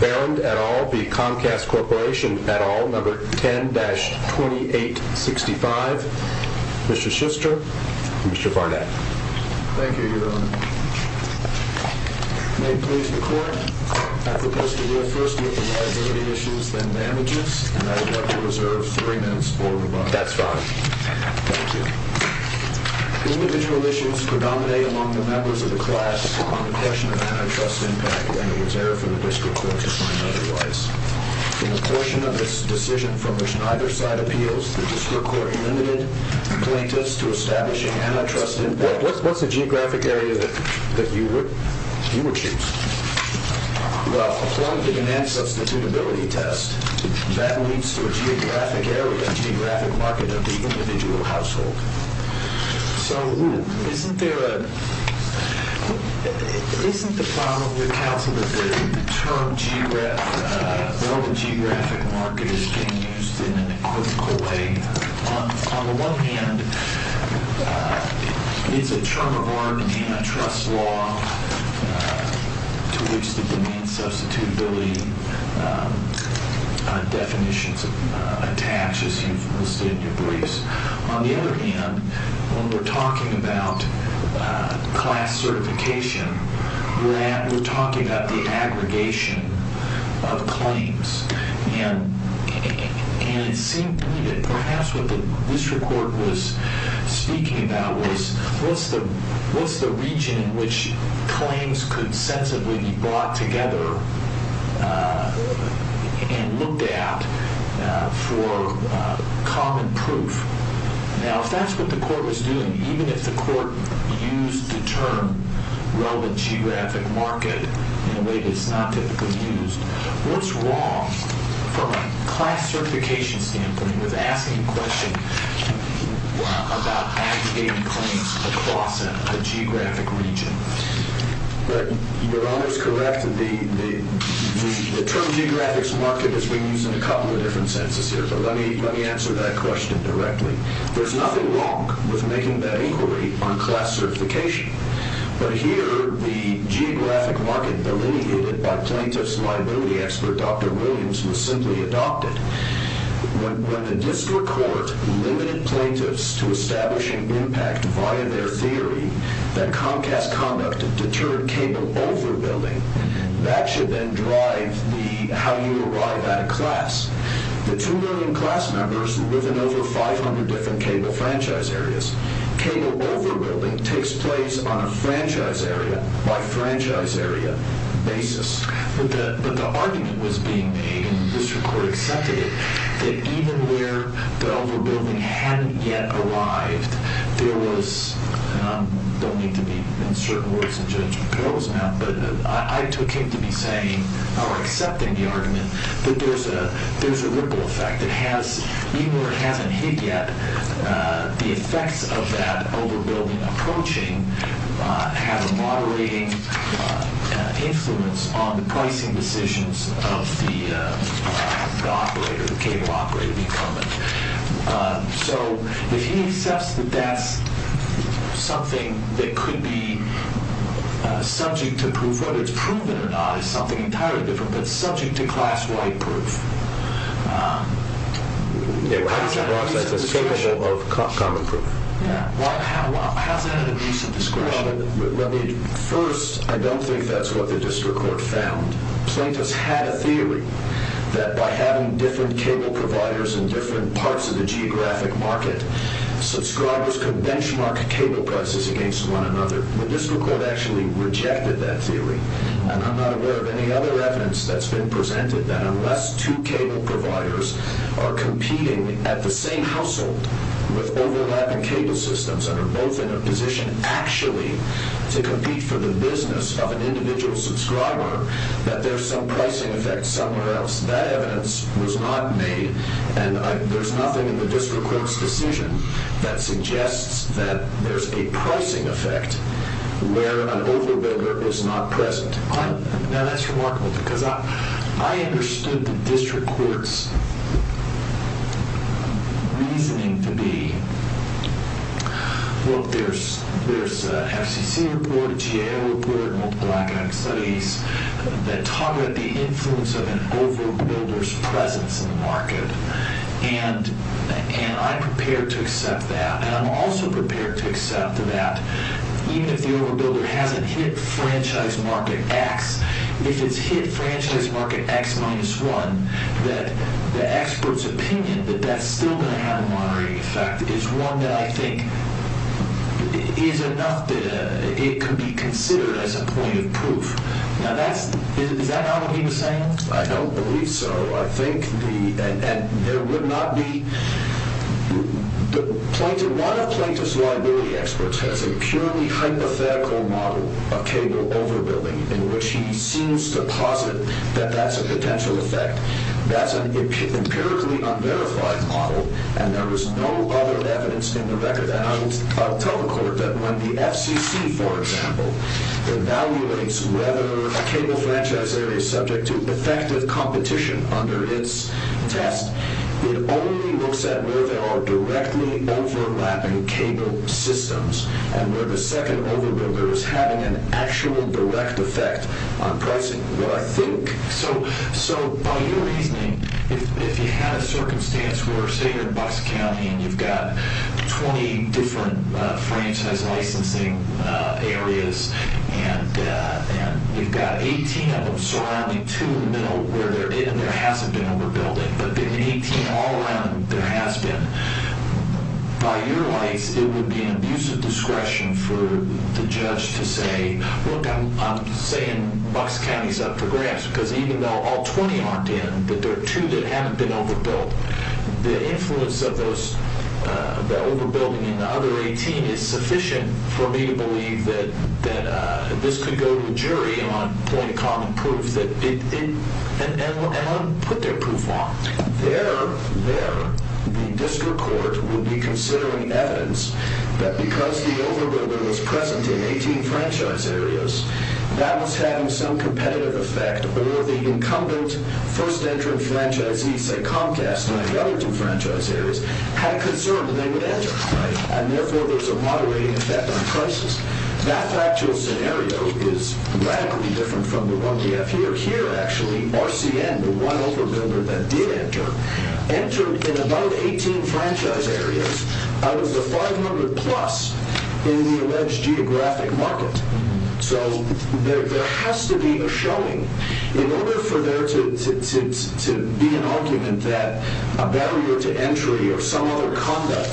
at all, No. 10-2865. Mr. Schuster, Mr. Barnett. Thank you, Your Honor. May it please the Court, I propose that we will first look at the liability issues, then damages, and I would like to reserve three minutes for rebuttal. That's fine. Thank you. Individual issues predominate among the members of the class on the question of antitrust impact and its error for the District Court to find otherwise. In a portion of this decision from which neither side appeals, the District Court amended plaintiffs to establishing antitrust impact. What's the geographic area that you would choose? Well, according to the enhanced substitutability test, that leads to a geographic area, geographic market of the individual household. So, isn't there a, isn't the problem with counsel that the term geographic, relative geographic market is being used in a critical way? On the one hand, is a term of order in antitrust law to which the demand substitutability definitions attach, as you've listed in your briefs. On the other hand, when we're talking about class certification, we're talking about the aggregation of claims. And it seemed to me that perhaps what the District Court was speaking about was what's the region in which claims could sensibly be brought together and looked at for common proof. Now, if that's what the court was doing, even if the court used the term relative geographic market in a way that's not typically used, what's wrong from a class certification standpoint with asking a question about aggregating claims across a geographic region? Your Honor is correct. The term geographic market is being used in a couple of different senses here, but let me answer that question directly. There's nothing wrong with making that inquiry on class certification. But here, the geographic market delineated by plaintiff's liability expert, Dr. Williams, was simply adopted. When the District Court limited plaintiffs to establishing impact via their theory that Comcast conduct deterred cable overbuilding, that should then drive how you arrive at a class. The two million class members who live in over 500 different cable franchise areas, cable overbuilding takes place on a franchise area by franchise area basis. But the argument was being made, and the District Court accepted it, that even where the overbuilding hadn't yet arrived, there was, and I don't mean to be, in certain words, a judge of perilous mouth, but I took him to be saying, or accepting the argument, that there's a ripple effect that has, even where it hasn't hit yet, the effects of that overbuilding approaching have a moderating influence on the pricing decisions of the operator, the cable operator, the incumbent. So if he accepts that that's something that could be subject to proof, whether it's proven or not, is something entirely different, but subject to class-wide proof. How is that an abuse of discretion? How is that an abuse of discretion? First, I don't think that's what the District Court found. Plaintiffs had a theory that by having different cable providers in different parts of the geographic market, subscribers could benchmark cable prices against one another. The District Court actually rejected that theory, and I'm not aware of any other evidence that's been presented that unless two cable providers are competing at the same household with overlapping cable systems and are both in a position, actually, to compete for the business of an individual subscriber, that there's some pricing effect somewhere else. That evidence was not made, and there's nothing in the District Court's decision that suggests that there's a pricing effect where an overbuilder is not present. Now, that's remarkable, because I understood the District Court's reasoning to be, look, there's FCC report, GAO report, multiple academic studies that talk about the influence of an overbuilder's presence in the market, and I'm prepared to accept that, and I'm also prepared to accept that even if the overbuilder hasn't hit franchise market X, if it's hit franchise market X minus one, that the expert's opinion that that's still going to have a monitoring effect is one that I think is enough that it could be considered as a point of proof. Now, is that not what he was saying? I don't believe so. A lot of plaintiff's liability experts have a purely hypothetical model of cable overbuilding in which he seems to posit that that's a potential effect. That's an empirically unverified model, and there is no other evidence in the record that I would tell the Court that when the FCC, for example, evaluates whether a cable franchise area is subject to effective competition under its test, it only looks at where there are directly overlapping cable systems, and where the second overbuilder is having an actual direct effect on pricing, what I think. So by your reasoning, if you had a circumstance where, say, you're in Bucks County, and you've got 20 different franchise licensing areas, and you've got 18 of them surrounding two in the middle where there hasn't been overbuilding, but then 18 all around there has been, by your license, it would be an abuse of discretion for the judge to say, look, I'm saying Bucks County's up for grabs because even though all 20 aren't in, but there are two that haven't been overbuilt, the influence of the overbuilding in the other 18 is sufficient for me to believe that this could go to a jury and put their proof on. There, the district court would be considering evidence that because the overbuilder was present in 18 franchise areas, that was having some competitive effect, or the incumbent first-entering franchisees, say Comcast in the other two franchise areas, had a concern that they would enter, right? And therefore, there's a moderating effect on prices. That actual scenario is radically different from the one we have here. Here, actually, RCN, the one overbuilder that did enter, entered in about 18 franchise areas out of the 500-plus in the alleged geographic market. So there has to be a showing. In order for there to be an argument that a barrier to entry or some other conduct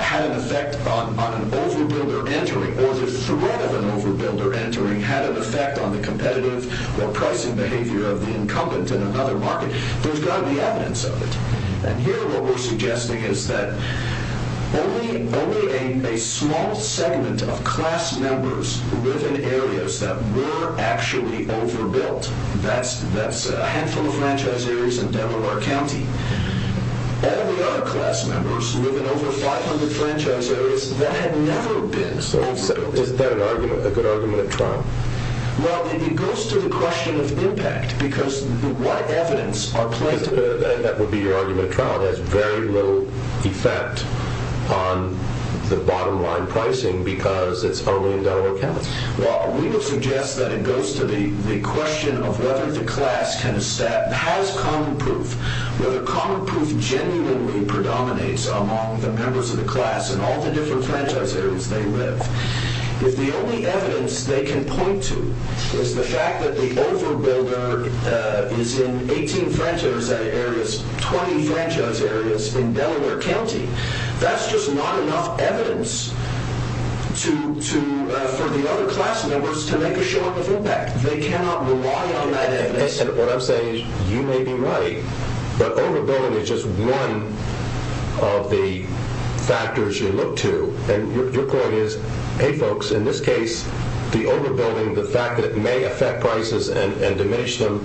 had an effect on an overbuilder entering, or the threat of an overbuilder entering had an effect on the competitive or pricing behavior of the incumbent in another market, there's got to be evidence of it. And here, what we're suggesting is that only a small segment of class members live in areas that were actually overbuilt. That's a handful of franchise areas in Delaware County. All the other class members live in over 500 franchise areas that had never been overbuilt. So is that a good argument at trial? Well, it goes to the question of impact, because what evidence are placed... That would be your argument at trial. It has very little effect on the bottom-line pricing because it's only in Delaware County. Well, we would suggest that it goes to the question of whether the class has common proof, whether common proof genuinely predominates among the members of the class in all the different franchise areas they live. If the only evidence they can point to is the fact that the overbuilder is in 18 franchise areas, 20 franchise areas in Delaware County, that's just not enough evidence for the other class members to make a short of impact. They cannot rely on that evidence. What I'm saying is you may be right, but overbuilding is just one of the factors you look to. Your point is, hey, folks, in this case, the overbuilding, the fact that it may affect prices and diminish them,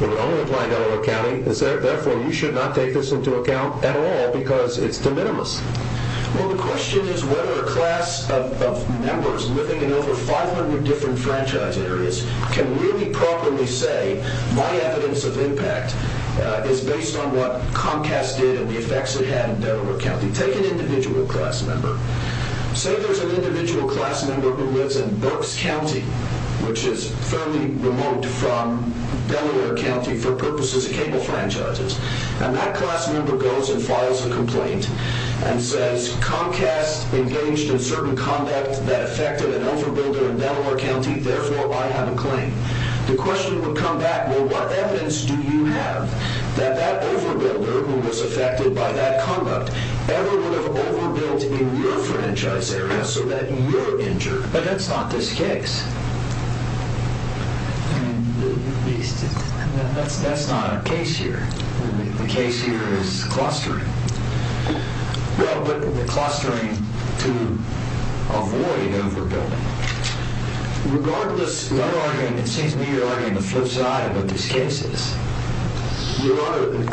would only apply in Delaware County. Therefore, you should not take this into account at all because it's de minimis. Well, the question is whether a class of members living in over 500 different franchise areas can really properly say, my evidence of impact is based on what Comcast did and the effects it had in Delaware County. Take an individual class member. Say there's an individual class member who lives in Berks County, which is fairly remote from Delaware County for purposes of cable franchises. And that class member goes and files a complaint and says, Comcast engaged in certain conduct that affected an overbuilder in Delaware County. Therefore, I have a claim. The question would come back, well, what evidence do you have that that overbuilder, who was affected by that conduct, ever would have overbuilt in your franchise area so that you're injured? But that's not this case. That's not a case here. The case here is clustering. Well, but clustering to avoid overbuilding. Regardless, it seems to me you're arguing the flip side of these cases. Your Honor,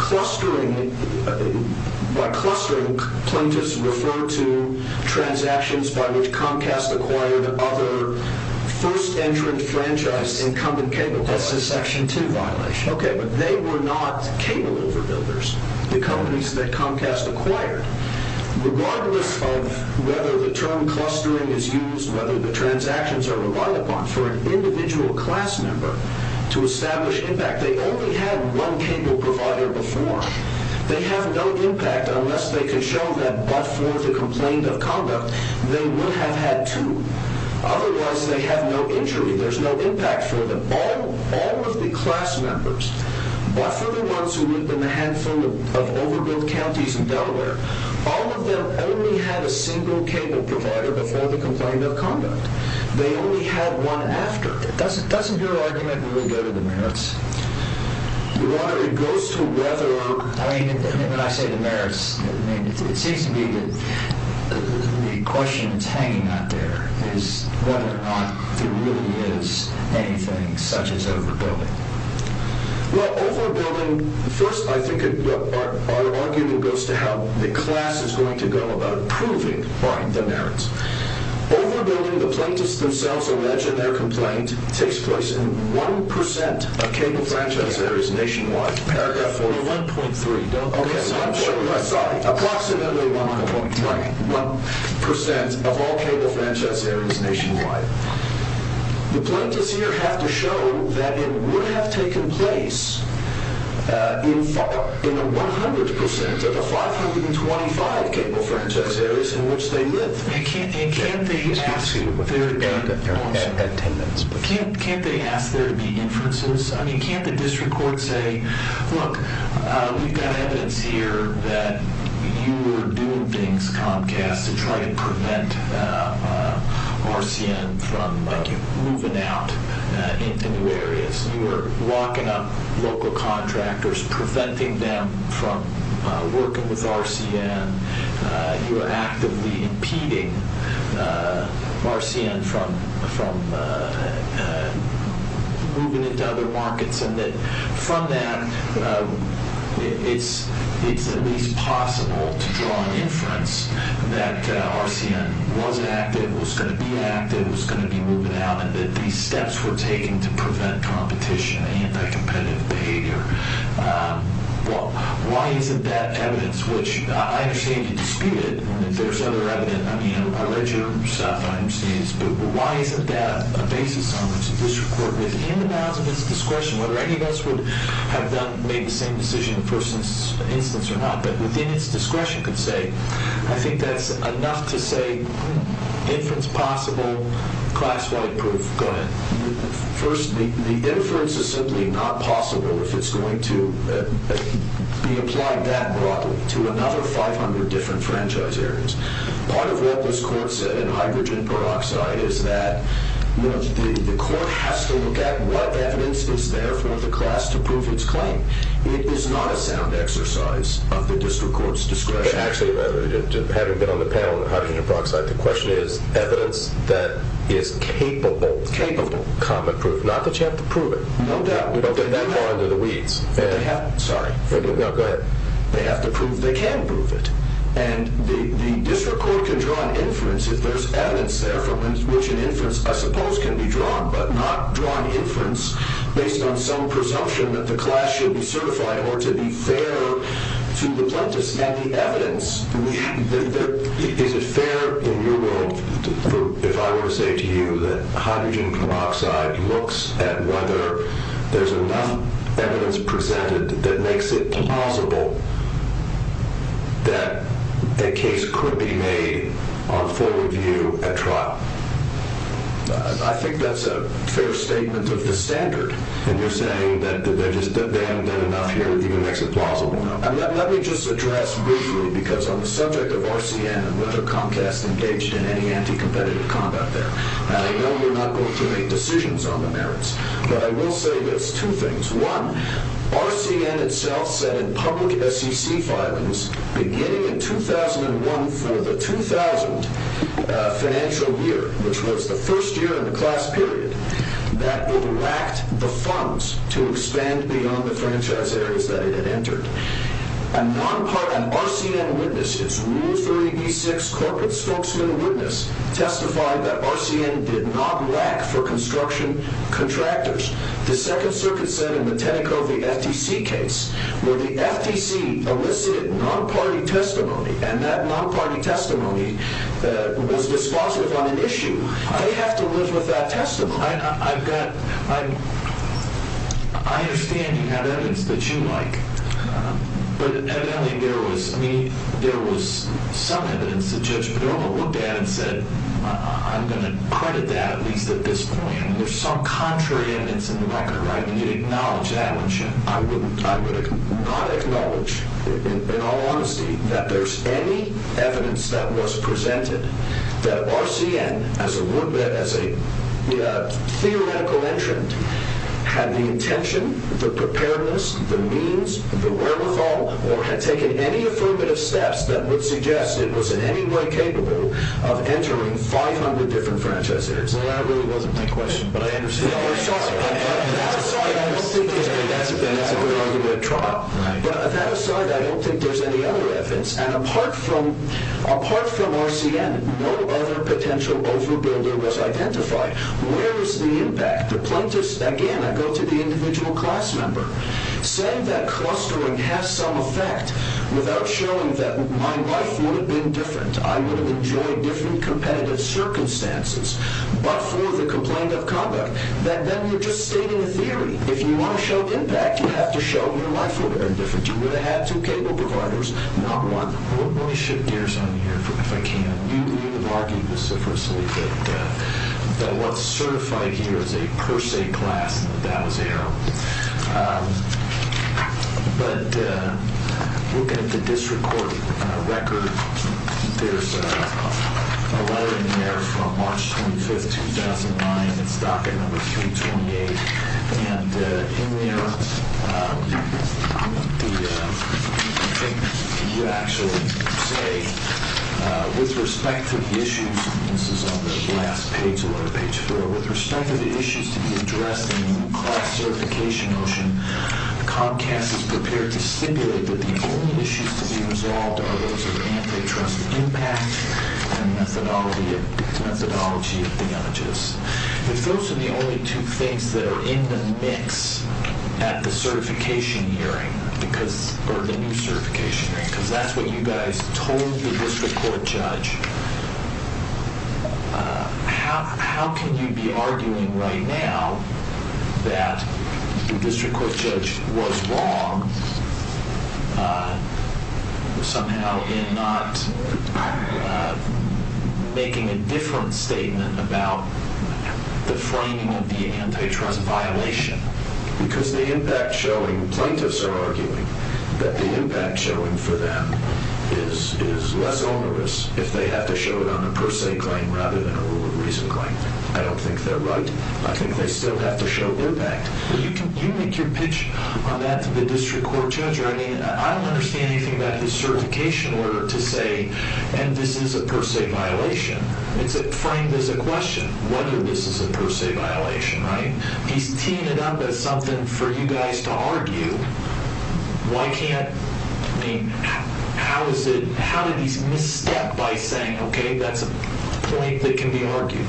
by clustering, plaintiffs refer to transactions by which Comcast acquired other first entrant franchise incumbent cable. That's a Section 2 violation. Okay, but they were not cable overbuilders. The companies that Comcast acquired, regardless of whether the term clustering is used, whether the transactions are relied upon for an individual class member to establish impact, they only had one cable provider before. They have no impact unless they can show that, but for the complaint of conduct, they would have had two. Otherwise, they have no injury. There's no impact for them. All of the class members, but for the ones who live in a handful of overbuilt counties in Delaware, all of them only had a single cable provider before the complaint of conduct. They only had one after. But doesn't your argument really go to the merits? Your Honor, it goes to whether— I mean, when I say the merits, it seems to me that the question that's hanging out there is whether or not there really is anything such as overbuilding. Well, overbuilding—first, I think our argument goes to how the class is going to go about proving the merits. Overbuilding, the plaintiffs themselves allege in their complaint, takes place in 1% of cable franchise areas nationwide. Paragraph 41.3. I'm sorry. Approximately 1% of all cable franchise areas nationwide. The plaintiffs here have to show that it would have taken place in 100% of the 525 cable franchise areas in which they live. Can't they ask there to be inferences? I mean, can't the district court say, look, we've got evidence here that you were doing things, Comcast, to try to prevent RCN from moving out into new areas. You were locking up local contractors, preventing them from working with RCN. You were actively impeding RCN from moving into other markets, and that from that, it's at least possible to draw an inference that RCN was active, was going to be active, was going to be moving out, and that these steps were taken to prevent competition, anti-competitive behavior. Why isn't that evidence, which I understand you dispute it, and if there's other evidence, I read your stuff, but why isn't that a basis on which the district court, within the bounds of its discretion, whether any of us would have made the same decision in the first instance or not, but within its discretion, could say, I think that's enough to say inference possible, class-wide proof. Go ahead. First, the inference is simply not possible if it's going to be applied that broadly to another 500 different franchise areas. Part of what this court said in hydrogen peroxide is that the court has to look at what evidence is there for the class to prove its claim. It is not a sound exercise of the district court's discretion. Actually, having been on the panel on hydrogen peroxide, the question is evidence that is capable of common proof. Not that you have to prove it. No doubt. We don't get that far under the weeds. Sorry. No, go ahead. They have to prove they can prove it. And the district court can draw an inference if there's evidence there from which an inference, I suppose, can be drawn, but not draw an inference based on some presumption that the class should be certified or to be fair to the plaintiffs. And the evidence, is it fair in your world, if I were to say to you that hydrogen peroxide looks at whether there's enough evidence presented that makes it plausible that a case could be made on full review at trial? I think that's a fair statement of the standard. And you're saying that they haven't done enough here to even make it plausible enough. Let me just address briefly, because on the subject of RCN and whether Comcast engaged in any anti-competitive conduct there, and I know we're not going to make decisions on the merits, but I will say this, two things. One, RCN itself said in public SEC filings, beginning in 2001 for the 2000 financial year, which was the first year in the class period, that it lacked the funds to expand beyond the franchise areas that it had entered. RCN witnesses, Rule 30b-6 corporate spokesman witness, testified that RCN did not lack for construction contractors. The Second Circuit said in the Tenneco v. FTC case, where the FTC elicited non-party testimony, and that non-party testimony was dispositive on an issue. They have to live with that testimony. I understand you have evidence that you like. But evidently, there was some evidence that Judge Perdomo looked at and said, I'm going to credit that, at least at this point. And there's some contrary evidence in the record, right? And you'd acknowledge that. I would not acknowledge, in all honesty, that there's any evidence that was presented that RCN, as a theoretical entrant, had the intention, the preparedness, the means, the wherewithal, or had taken any affirmative steps that would suggest it was in any way capable of entering 500 different franchises. Well, that really wasn't my question. That aside, I don't think there's any other evidence. And apart from RCN, no other potential over-builder was identified. Where is the impact? Again, I go to the individual class member. Saying that clustering has some effect, without showing that my life would have been different, I would have enjoyed different competitive circumstances. But for the complaint of conduct, that then you're just stating a theory. If you want to show impact, you have to show your life would have been different. You would have had two cable providers, not one. Let me shift gears on you here, if I can. You have argued, specifically, that what's certified here is a per se class, and that that was error. But looking at the district court record, there's a letter in there from March 25, 2009. It's docket number 328. And in there, you actually say, with respect to the issues, and this is on the last page, with respect to the issues to be addressed in the new class certification motion, Comcast is prepared to stipulate that the only issues to be resolved are those of antitrust impact and methodology of damages. If those are the only two things that are in the mix at the certification hearing, or the new certification hearing, because that's what you guys told the district court judge, how can you be arguing right now that the district court judge was wrong somehow in not making a different statement about the framing of the antitrust violation? Because the impact showing, plaintiffs are arguing that the impact showing for them is less onerous if they have to show it on a per se claim rather than a rule of reason claim. I don't think they're right. I think they still have to show impact. You make your pitch on that to the district court judge. I mean, I don't understand anything about his certification order to say, and this is a per se violation. It's framed as a question, whether this is a per se violation, right? Why can't, I mean, how did he misstep by saying, okay, that's a point that can be argued?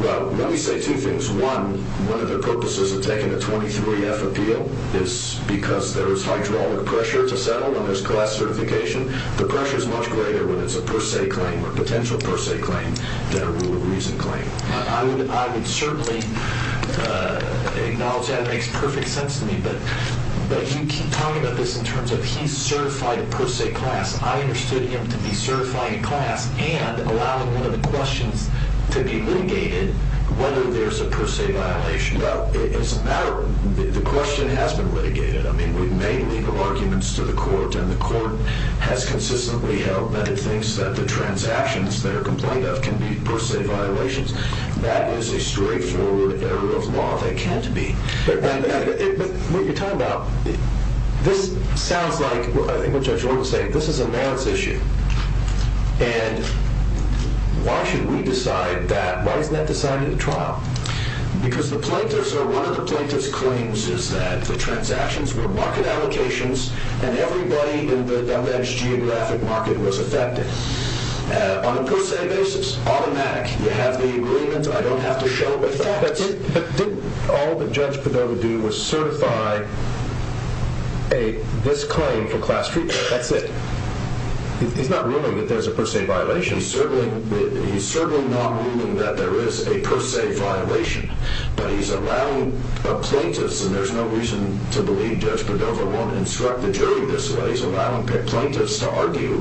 Well, let me say two things. One, one of the purposes of taking a 23-F appeal is because there is hydraulic pressure to settle when there's class certification. The pressure is much greater when it's a per se claim or potential per se claim than a rule of reason claim. I would certainly acknowledge that. It makes perfect sense to me. But you keep talking about this in terms of he's certified a per se class. I understood him to be certified a class and allowing one of the questions to be litigated, whether there's a per se violation. Well, it's a matter of, the question has been litigated. I mean, we've made legal arguments to the court, and the court has consistently held that it thinks that the transactions that are complained of can be per se violations. That is a straightforward area of law. They can't be. But what you're talking about, this sounds like, I think what Judge Orr would say, this is a merits issue. And why should we decide that? Why isn't that decided at trial? Because the plaintiffs, or one of the plaintiffs' claims is that the transactions were market allocations and everybody in the alleged geographic market was affected on a per se basis. Automatic. You have the agreement. I don't have to show the facts. But didn't all that Judge Padova do was certify this claim for class treatment? That's it. He's not ruling that there's a per se violation. He's certainly not ruling that there is a per se violation, but he's allowing a plaintiff, and there's no reason to believe Judge Padova won't instruct the jury this way. He's allowing plaintiffs to argue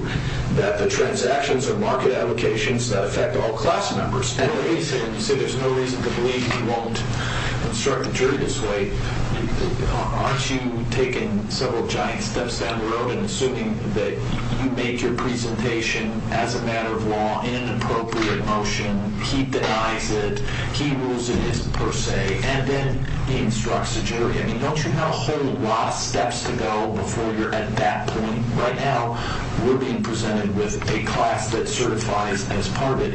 that the transactions are market allocations that affect all class members. So there's no reason to believe he won't instruct the jury this way. Aren't you taking several giant steps down the road and assuming that you make your presentation, as a matter of law, in an appropriate motion? He denies it. He rules it is per se. And then he instructs the jury. I mean, don't you have a whole lot of steps to go before you're at that point? Right now we're being presented with a class that certifies as part of it.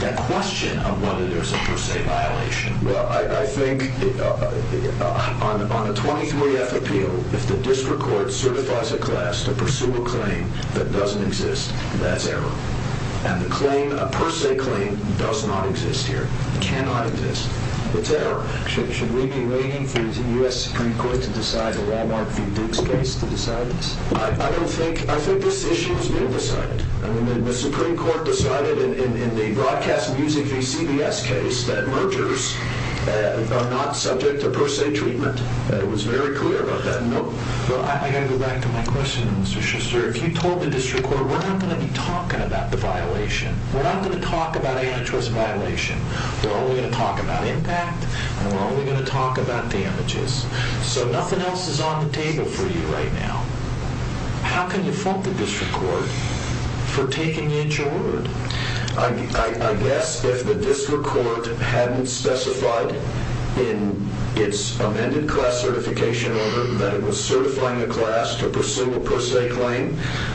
The question of whether there's a per se violation. Well, I think on a 23-F appeal, if the district court certifies a class to pursue a claim that doesn't exist, that's error. And the claim, a per se claim, does not exist here. It cannot exist. It's error. Should we be waiting for the U.S. Supreme Court to decide a Wal-Mart v. Diggs case to decide this? I don't think. I think this issue has been decided. I mean, the Supreme Court decided in the broadcast music v. CBS case that mergers are not subject to per se treatment. It was very clear about that. I got to go back to my question, Mr. Schuster. If you told the district court, we're not going to be talking about the violation. We're not going to talk about any choice violation. We're only going to talk about impact, and we're only going to talk about damages. So nothing else is on the table for you right now. How can you fault the district court for taking the inch of word? I guess if the district court hadn't specified in its amended class certification order that it was certifying a class to pursue a per se claim,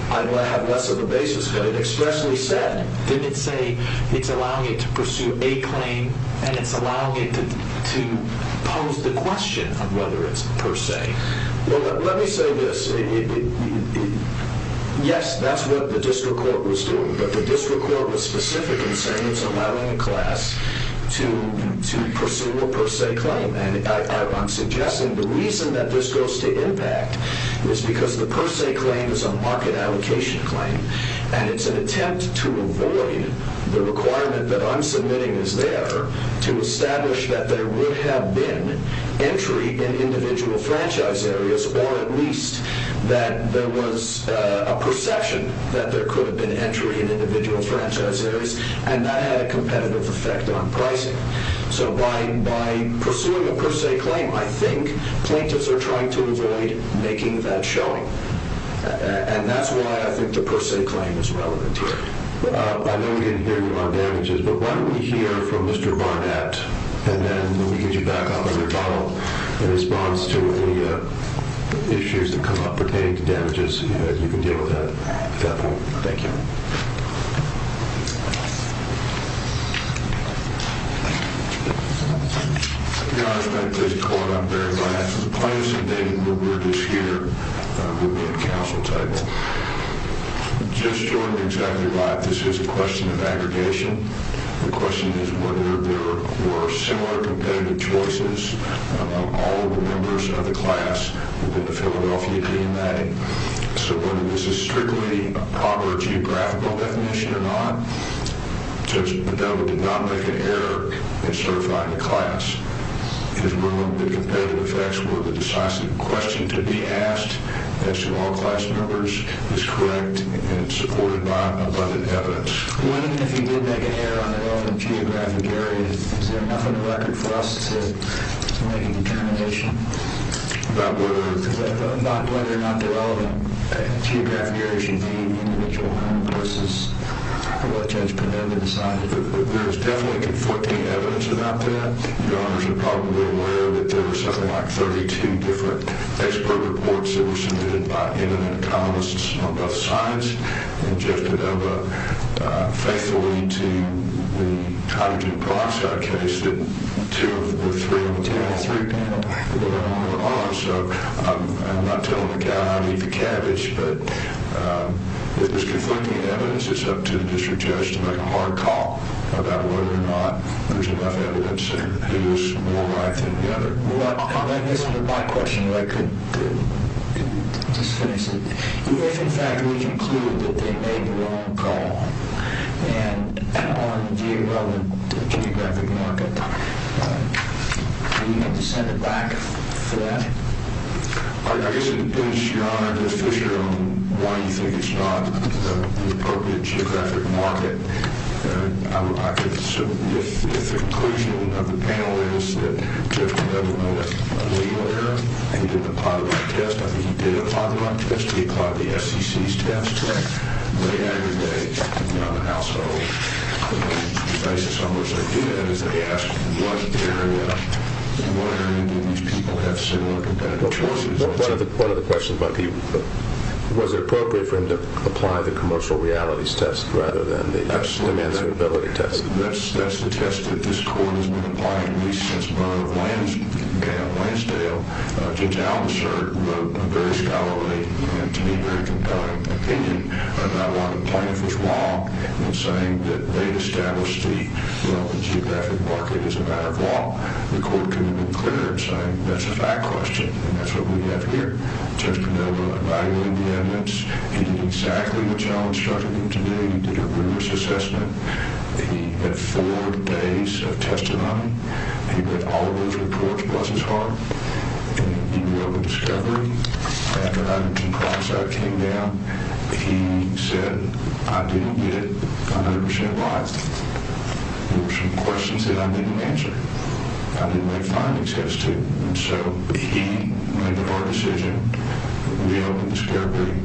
I'd have less of a basis. But it expressly said, didn't it say it's allowing it to pursue a claim, and it's allowing it to pose the question of whether it's per se? Well, let me say this. Yes, that's what the district court was doing, but the district court was specific in saying it's allowing a class to pursue a per se claim. And I'm suggesting the reason that this goes to impact is because the per se claim is a market allocation claim, and it's an attempt to avoid the requirement that I'm submitting is there to establish that there would have been entry in individual franchise areas, or at least that there was a perception that there could have been entry in individual franchise areas, and that had a competitive effect on pricing. So by pursuing a per se claim, I think plaintiffs are trying to avoid making that showing. And that's why I think the per se claim is relevant here. I know we didn't hear you on damages, but why don't we hear from Mr. Barnett, and then we'll get you back on the rebuttal in response to any issues that come up pertaining to damages. You can deal with that at that point. Thank you. Your Honor, if I may please call it up very last. Plaintiff's indicted, Robert is here, will be at council table. Just your exactly right, this is a question of aggregation. The question is whether there were similar competitive choices among all of the members of the class within the Philadelphia DMA. So whether this is strictly a proper geographical definition or not. Judge Padova did not make an error in certifying the class. His ruling that competitive effects were the decisive question to be asked, as to all class members, is correct and supported by abundant evidence. Even if he did make an error on the relevant geographic area, is there enough on the record for us to make a determination? About whether? About whether or not the relevant geographic area should be an individual home versus Well, Judge Padova decided. There is definitely conflicting evidence about that. Your Honors are probably aware that there were something like 32 different expert reports that were submitted by eminent economists on both sides. And Judge Padova faithfully to the hydrogen peroxide case, that two of the three, two of the three people were on there are. So I'm not telling the cow how to eat the cabbage, but if there's conflicting evidence, it's up to the district judge to make a hard call about whether or not there's enough evidence that he was more right than the other. Well, I guess with my question, I could just finish it. If, in fact, we conclude that they made the wrong call, and on the relevant geographic market, do we have to send it back for that? I guess it depends, Your Honor. One, you think it's not the appropriate geographic market. If the conclusion of the panel is that Judge Padova made a legal error and he did the Padova test, I think he did a Padova test. He applied the SEC's test to lay aggregate on the household. The precise assumption I get is that he asked what area, what area do these people have similar competitive choices. One of the questions might be, was it appropriate for him to apply the commercial realities test rather than the demands and ability test? That's the test that this court has been applying at least since the murder of Lansdale. Judge Almasert wrote a very scholarly and, to me, very compelling opinion about why the plaintiff was wrong in saying that they established the relevant geographic market as a matter of law. The court could have been clearer in saying, that's a fact question, and that's what we have here. Judge Padova evaluated the evidence. He did exactly what you all instructed him to do. He did a rigorous assessment. He had four days of testimony. He read all of those reports. He was his heart. He did a relevant discovery. After 102 products came down, he said, I didn't get it 100% wise. There were some questions that I didn't answer. I didn't make findings as to. And so he made the hard decision, reopened the discovery,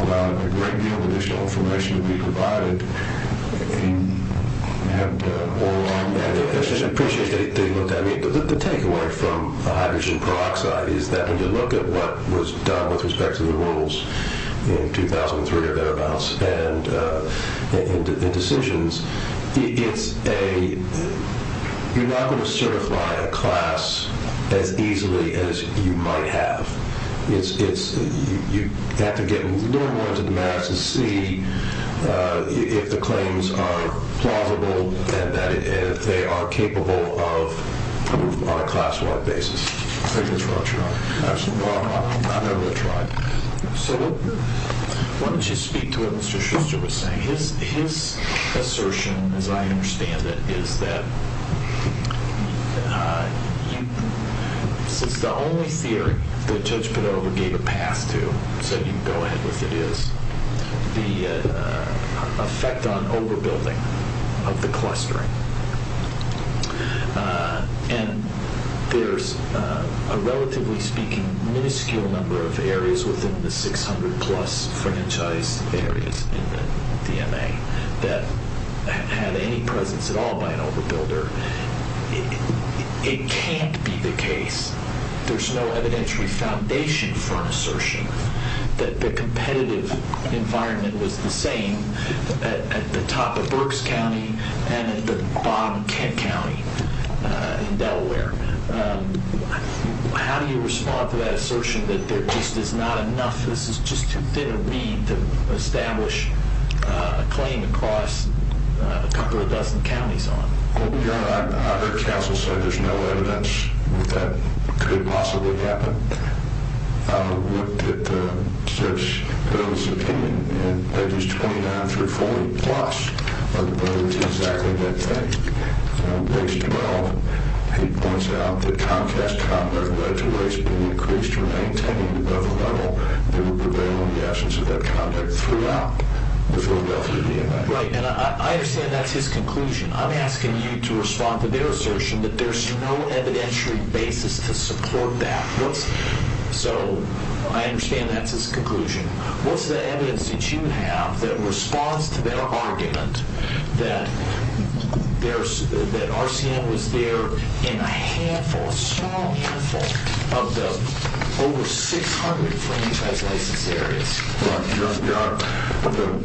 allowed a great deal of additional information to be provided, and had the whole line of evidence. I just appreciate that he looked at it. The takeaway from hydrogen peroxide is that when you look at what was done with respect to the rules in 2003, or thereabouts, and decisions, you're not going to certify a class as easily as you might have. You have to get a little more into the maths and see if the claims are plausible and that they are capable of on a class-wide basis. I think that's what I'll try. Absolutely. I'm going to try. So why don't you speak to what Mr. Schuster was saying. His assertion, as I understand it, is that since the only theory that Judge Padova gave a path to, so you can go ahead with it, and there's a relatively speaking minuscule number of areas within the 600-plus franchise areas in the DMA that had any presence at all by an overbuilder. It can't be the case. There's no evidentiary foundation for an assertion that the competitive environment was the same at the top of Berks County and at the bottom of Kent County in Delaware. How do you respond to that assertion that there just is not enough, this is just too thin a reed to establish a claim across a couple of dozen counties on? Your Honor, I heard counsel say there's no evidence that that could possibly happen. I looked at Judge Padova's opinion, and that is 29 through 40-plus overbuilders do exactly that thing. In page 12, he points out that Comcast conduct led to rates being increased or maintained above a level that would prevail in the absence of that conduct throughout the Philadelphia DMA. Right, and I understand that's his conclusion. I'm asking you to respond to their assertion that there's no evidentiary basis to support that. So I understand that's his conclusion. What's the evidence that you have that responds to their argument that RCM was there in a handful, a small handful of the over 600 franchise license areas? Your Honor,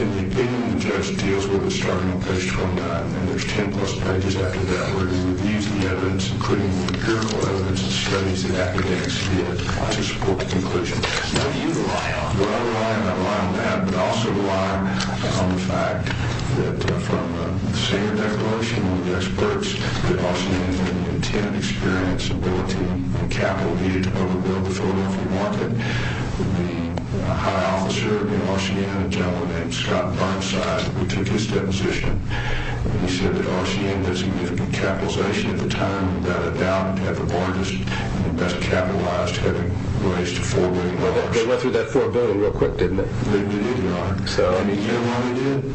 in the opinion of the judge, it deals with a starting place from that, and there's 10-plus pages after that where he reviews the evidence, including the cure codes and studies the academics did to support the conclusion. What do you rely on? Well, I rely not only on that, but I also rely on the fact that from the senior declaration with experts that RCM had an intent, experience, ability, and capital needed to overbuild the Philadelphia market. The high officer of RCM, a gentleman named Scott Barnside, who took his deposition, he said that RCM had significant capitalization at the time, without a doubt had the largest and best capitalized, having raised to $4 billion. They went through that $4 billion real quick, didn't they? They did, Your Honor. And you know why they did?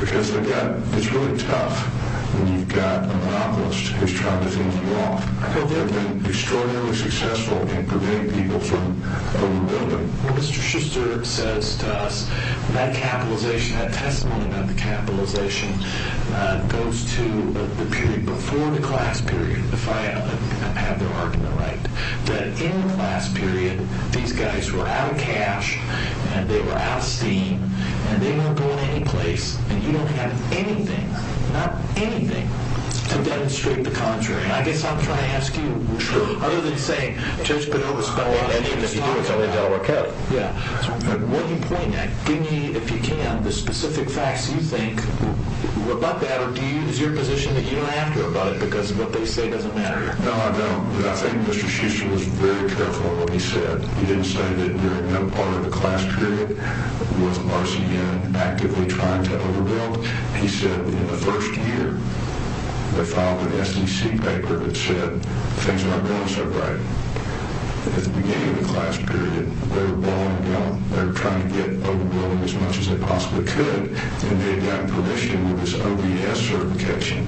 Because it's really tough when you've got a monopolist who's trying to fend you off. They've been extraordinarily successful in preventing people from overbuilding. Well, Mr. Schuster says to us, that capitalization, that testimony about the capitalization, goes to the period before the class period, if I have the argument right, that in the class period, these guys were out of cash, and they were out of steam, and they weren't going anyplace, and you don't have anything, not anything, to demonstrate the contrary. And I guess I'm trying to ask you, other than to say, it's just been overspelling anything that you do, it's only Delaware County. Yeah. What do you point at? Give me, if you can, the specific facts you think about that, or is your position that you don't have to know about it, because what they say doesn't matter? No, I don't. I think Mr. Schuster was very careful in what he said. He didn't say that you're no part of the class period, with RCM actively trying to overbuild. He said, in the first year, they filed an SEC paper that said, things aren't going so great. At the beginning of the class period, they were balling down, they were trying to get overbuilding as much as they possibly could, and they got permission with this OBS certification,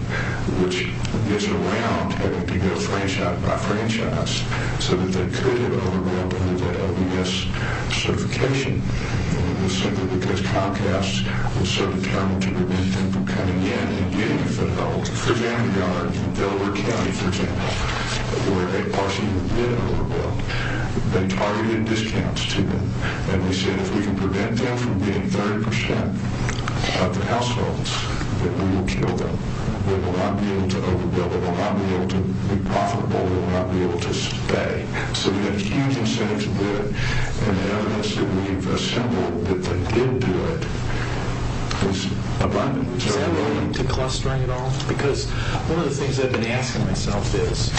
which gets around having to go franchise by franchise, so that they could have overbuilt under that OBS certification. It was simply because Comcast was so determined to prevent them from coming in for Vanguard, Delaware County, for example, where they partially did overbuild. They targeted discounts to them, and they said, if we can prevent them from being 30% of the households, that we will kill them. They will not be able to overbuild. They will not be able to be profitable. They will not be able to spay. So we had huge incentives to do it, and the evidence that we've assembled that they did do it is abundant. Is that related to clustering at all? Because one of the things I've been asking myself is,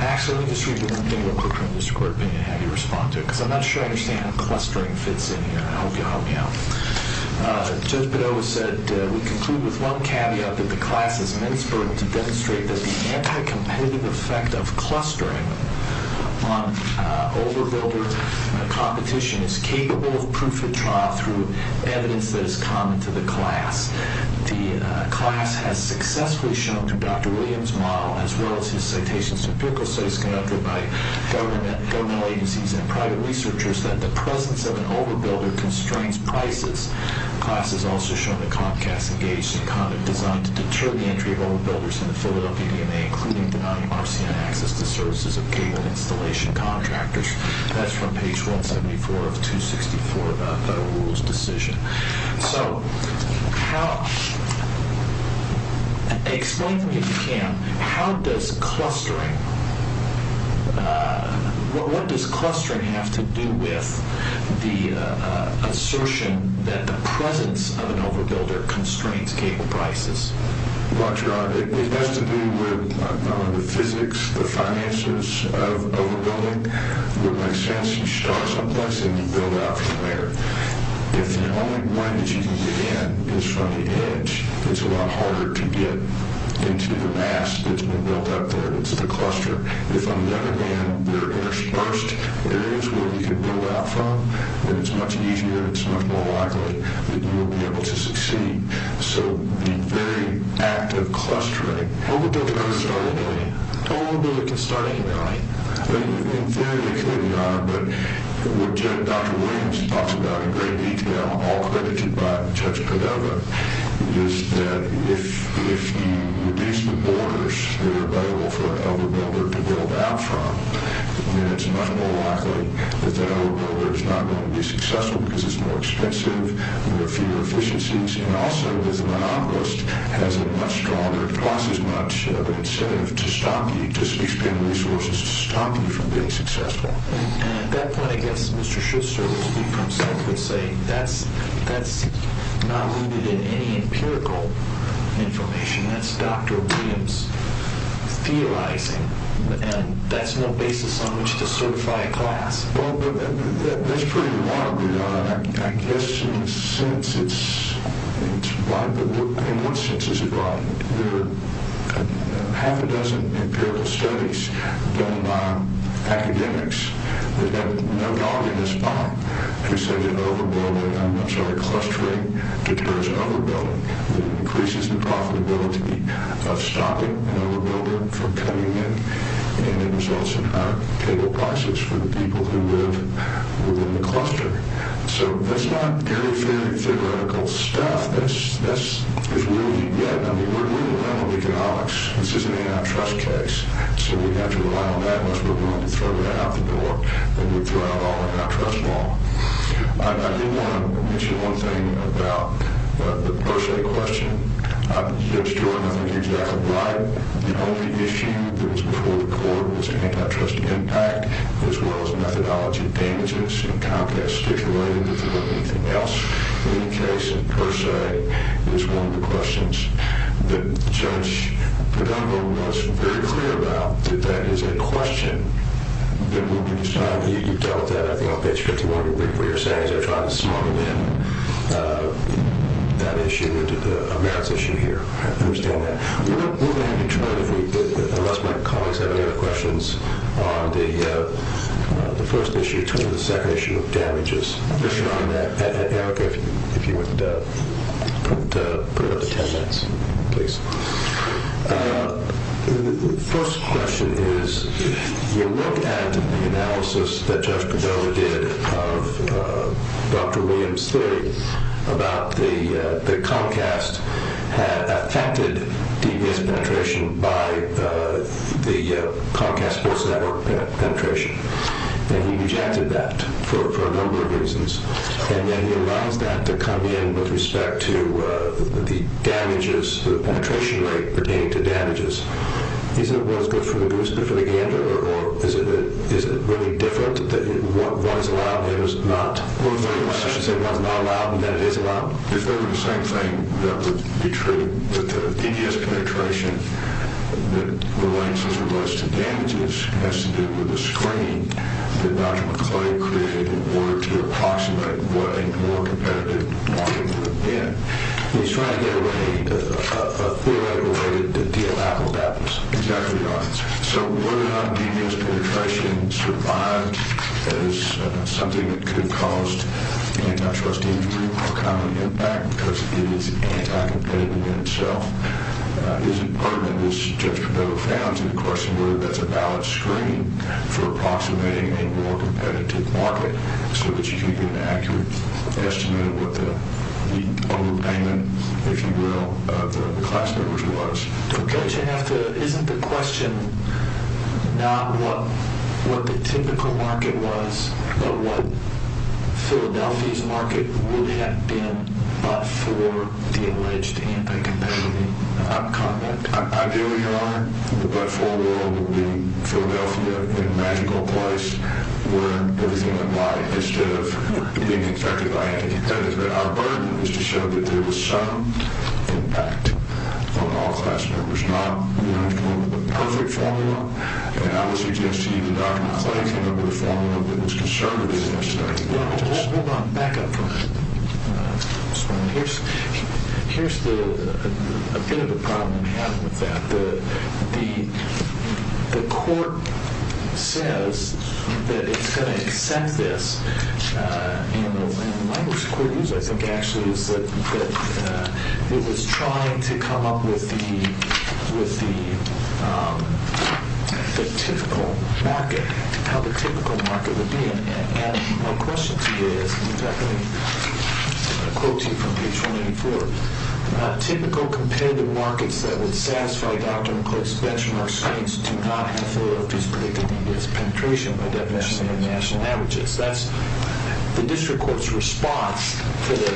actually, let me just read you one thing real quick from the district court opinion, and have you respond to it, because I'm not sure I understand how clustering fits in here. I hope you'll help me out. Judge Padova said, we conclude with one caveat that the class is ministering to demonstrate that the anti-competitive effect of clustering on overbuilder competition is capable of proof of trial through evidence that is common to the class. The class has successfully shown through Dr. Williams' model, as well as his citations to empirical studies conducted by governmental agencies and private researchers, that the presence of an overbuilder constrains prices. The class has also shown that Comcast engaged in conduct designed to deter the entry of overbuilders into the Philadelphia DMA, including denying Marcion access to services of cable installation contractors. That's from page 174 of 264 of the rules decision. So, how, explain to me if you can, how does clustering, what does clustering have to do with the assertion that the presence of an overbuilder constrains cable prices? Roger, it has to do with the physics, the finances of overbuilding. It would make sense to start someplace and build out from there. If the only way that you can begin is from the edge, it's a lot harder to get into the mass that's been built up there, it's the cluster. If on the other hand, there are interspersed areas where you can build out from, then it's much easier, it's much more likely that you will be able to succeed. So, the very act of clustering. Overbuilders can start anywhere. Overbuilders can start anywhere. In theory they could, Your Honor, but what Dr. Williams talks about in great detail, all credited by Judge Padova, is that if you reduce the borders that are available for an overbuilder to build out from, then it's much more likely that that overbuilder is not going to be successful because it's more expensive, there are fewer efficiencies, and also because the monopolist has a much stronger, costs as much of an incentive to stop you, to expend resources to stop you from being successful. And at that point, I guess Mr. Schuster will speak for himself and say, that's not rooted in any empirical information, that's Dr. Williams theorizing, and that's no basis on which to certify a class. Well, that's pretty remarkable, Your Honor. I guess, in a sense, it's right, but in what sense is it right? There are half a dozen empirical studies done by academics, that have no dog in their spine, who say that overbuilding, I'm sorry, clustering, deters overbuilding, that it increases the profitability of stopping an overbuilder from coming in, and it results in higher table prices for the people who live within the cluster. So, that's not very, very theoretical stuff. That's really, yeah, I mean, we're in the realm of economics. This is an antitrust case. So, we have to rely on that unless we're going to throw it out the door, and we throw out all the antitrust law. I did want to mention one thing about the per se question. Judge Jordan, I think you're exactly right. The only issue that was before the court was antitrust impact, as well as methodology of damages, and Comcast stipulated that there wasn't anything else in the case per se, was one of the questions that Judge Padova was very clear about, that that is a question that will be decided. You dealt with that, I think, on page 51 of your brief. What you're saying is they're trying to smuggle in that issue into the merits issue here. I understand that. We're going to have you turn, unless my colleagues have any other questions, on the first issue, turn to the second issue of damages. Erica, if you would put it up to ten minutes, please. The first question is, your look at the analysis that Judge Padova did of Dr. Williams' theory about the Comcast had affected DVS penetration by the Comcast Sports Network penetration. He rejected that for a number of reasons, and then he allows that to come in with respect to the damages, the penetration rate pertaining to damages. Isn't it what is good for the goose good for the gander, or is it really different that what is allowed and what is not? I should say what is not allowed and that it is allowed. If that were the same thing, that would be true that the DVS penetration that relates as it does to damages has to do with the screening that Dr. McCauley created in order to approximate what a more competitive market would have been. He's trying to get a theoretical way to deal out what that was. Exactly right. So whether or not DVS penetration survived as something that could have caused antitrust injury or common impact, because it is anti-competitive in itself, isn't part of it, as Judge Padova found, that's a valid screen for approximating a more competitive market so that you can get an accurate estimate of what the overpayment, if you will, of the class members was. Judge, isn't the question not what the typical market was but what Philadelphia's market would have been but for the alleged anti-competitive outcome? Ideally, Your Honor, the but-for world would be Philadelphia in a magical place where everything would lie instead of being affected by anti-competitive. Our burden is to show that there was some impact on all class members, not the perfect formula. And I would suggest to you that Dr. McCauley come up with a formula that was conservative in its study. Hold on, back up for a minute. Here's a bit of a problem we have with that. The court says that it's going to accept this. And the language the court used, I think, actually, is that it was trying to come up with the typical market, how the typical market would be. And my question to you is, in fact, let me quote to you from page 184. Typical competitive markets that would satisfy Dr. McCauley's benchmark science do not have Philadelphia's predicted needless penetration by definition of national averages. That's the district court's response to the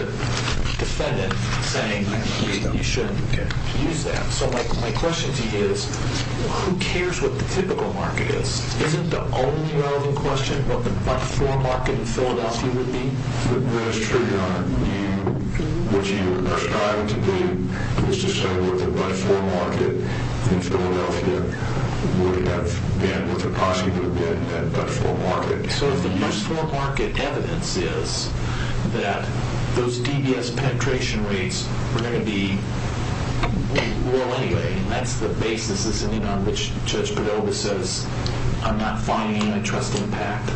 defendant saying you shouldn't use that. So my question to you is, who cares what the typical market is? Isn't the only relevant question what the but-for market in Philadelphia would be? That's true, Your Honor. What you are striving to do is to say what the but-for market in Philadelphia would have been, what the cost would have been in that but-for market. So if the but-for market evidence is that those DBS penetration rates were going to be, well, anyway, that's the basis, isn't it, on which Judge Padilla says, I'm not finding any trust impact.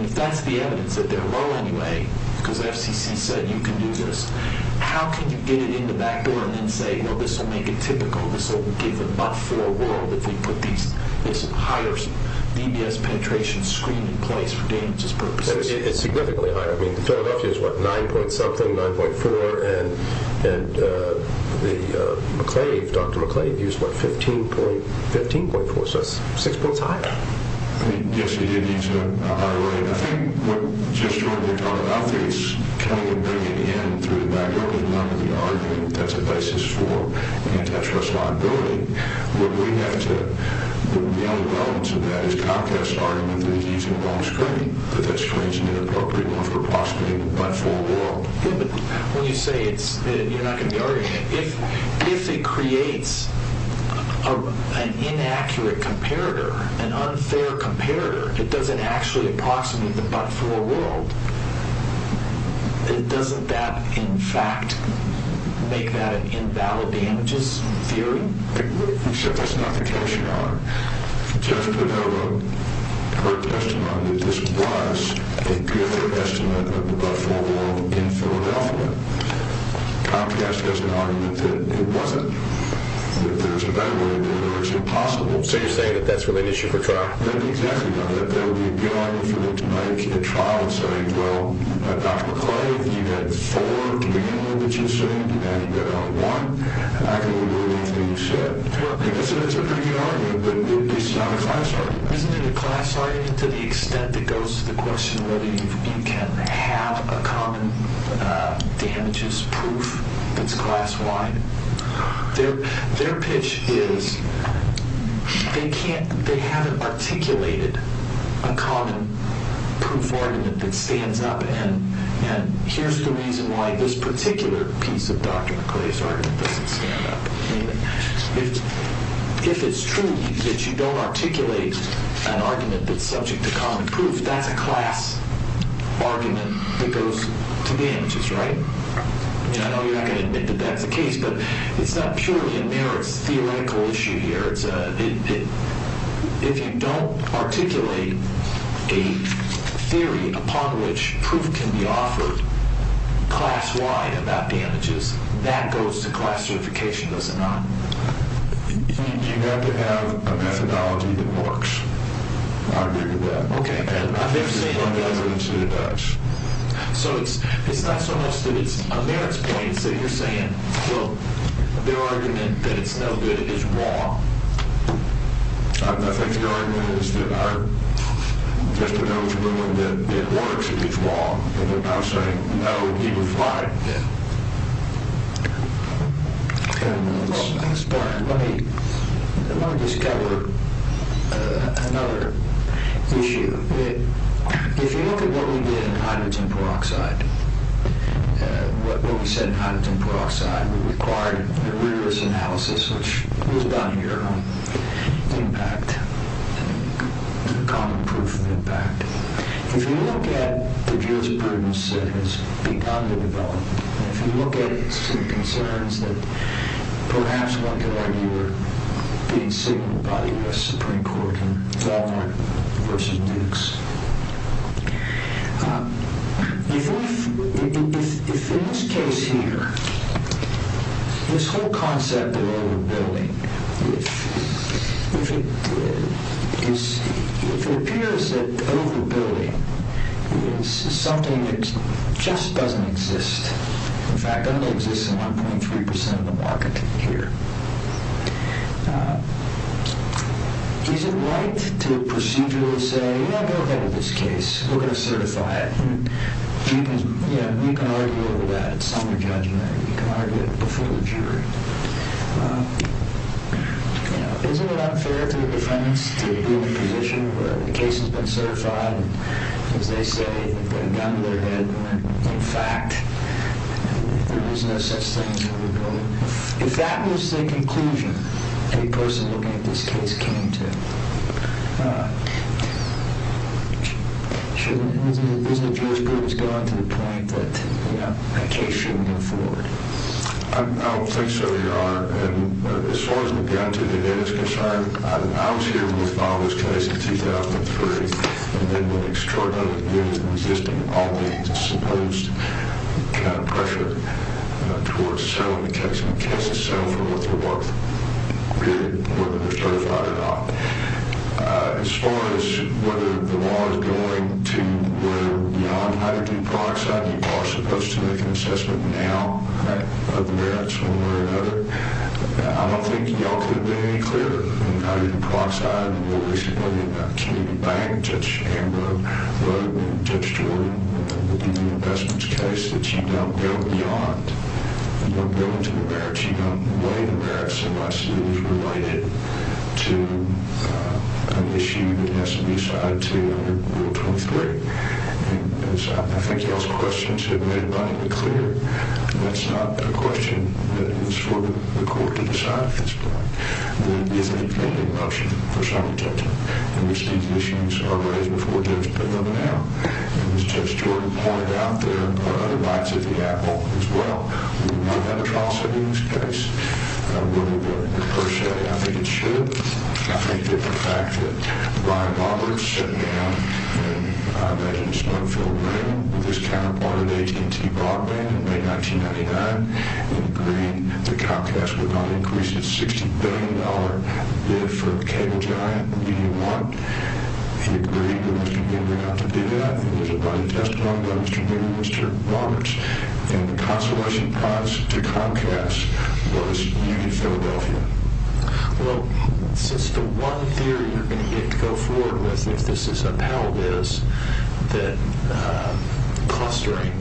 If that's the evidence, that they're low anyway because FCC said you can do this, how can you get it in the back door and then say, well, this will make it typical, this will give the but-for world if we put this higher DBS penetration screen in place for damages purposes? It's significantly higher. I mean, Philadelphia is what, 9-point-something, 9.4? And Dr. McClave used, what, 15.4, so that's 6 points higher? Yes, he did use a higher rate. I think what Judge Jordan had talked about is kind of bringing it in through the back door and running the argument that that's the basis for antitrust liability. What we have to, the only relevance of that is Comcast's argument that he's using the wrong screen, that that screen's an inappropriate one for possibly the but-for world. Yeah, but when you say it's, you're not going to be arguing it. If it creates an inaccurate comparator, an unfair comparator, it doesn't actually approximate the but-for world, doesn't that in fact make that an invalid damages theory? Judge Padova, her testimony, this was a different estimate of the but-for world in Philadelphia. Comcast has an argument that it wasn't. That there's a better way to do it or it's impossible. So you're saying that that's really an issue for trial? Exactly. That there would be a good argument for them to make a trial and say, well, Dr. McClave, you had four in the beginning that you sued and now you've got only one. I don't believe you should. It's a pretty good argument, but it's not a class argument. Isn't it a class argument to the extent that goes to the question whether you can have a common damages proof that's class-wide? Their pitch is they can't, they haven't articulated a common proof argument that stands up and here's the reason why this particular piece of Dr. McClave's argument doesn't stand up. If it's true that you don't articulate an argument that's subject to common proof, that's a class argument that goes to damages, right? I know you're not going to admit that that's the case, but it's not purely a merits theoretical issue here. If you don't articulate a theory upon which proof can be offered class-wide about damages, that goes to class certification, does it not? You have to have a methodology that works. I agree with that. Okay. And I'm never saying it doesn't. So it's not so much that it's a merits point, it's that you're saying, well, their argument that it's no good is wrong. I think their argument is that just because it's proven that it works, it's wrong. They're not saying, no, you can fly it. Yeah. I'm sorry, let me just cover another issue. If you look at what we did in hydrogen peroxide, what we said in hydrogen peroxide, we required a rigorous analysis, which was about impact, common proof of impact. If you look at the jurisprudence that has begun to develop, and if you look at some concerns that perhaps one could argue are being signaled by the U.S. Supreme Court in Volner v. Dukes, if in this case here, this whole concept of overbuilding, if it appears that overbuilding is something that just doesn't exist, in fact, doesn't exist in 1.3% of the market here, is it right to procedurally say, yeah, go ahead with this case. We're going to certify it. We can argue over that at some judgment. You can argue it before the jury. Isn't it unfair to defendants to be in a position where the case has been certified, and as they say, gun to their head, and in fact, there is no such thing as overbuilding? If that was the conclusion a person looking at this case came to, isn't the jurisprudence gone to the point that that case shouldn't move forward? I don't think so, Your Honor. As far as the gun to their head is concerned, I was here when we filed this case in 2003, and they were extraordinarily good at resisting all the supposed pressure towards selling the case and the case itself for what they're worth, whether they're certified or not. As far as whether the law is going to go beyond hydrogen peroxide, you are supposed to make an assessment now of the merits one way or another. I don't think you all could have been any clearer than hydrogen peroxide and what we said earlier about Kennedy Bank, Judge Amber, Judge Jordan, the investment case that you don't go beyond. You don't go into the merits. You don't weigh the merits unless it is related to an issue that has to be assigned to Rule 23. I think those questions have been made abundantly clear. That's not a question that is for the court to decide. It is a committed motion for some judgment in which these issues are raised before a judge. Put them out. As Judge Jordan pointed out, there are other rights at the apple as well. We would not have a trial sitting in this case. I don't believe it per se. I think it should. I think that the fact that Brian Roberts sat down and, I imagine, with his counterpart at AT&T, Bob Landon, in May 1999, and agreed the Comcast would not increase its $60 billion bid for a cable giant, and he didn't want. He agreed with Mr. Boomer not to do that. It was a bloody testimony by Mr. Boomer and Mr. Roberts, and the consolation prize to Comcast was Union Philadelphia. Well, since the one theory you're going to get to go forward with, if this is upheld, is that clustering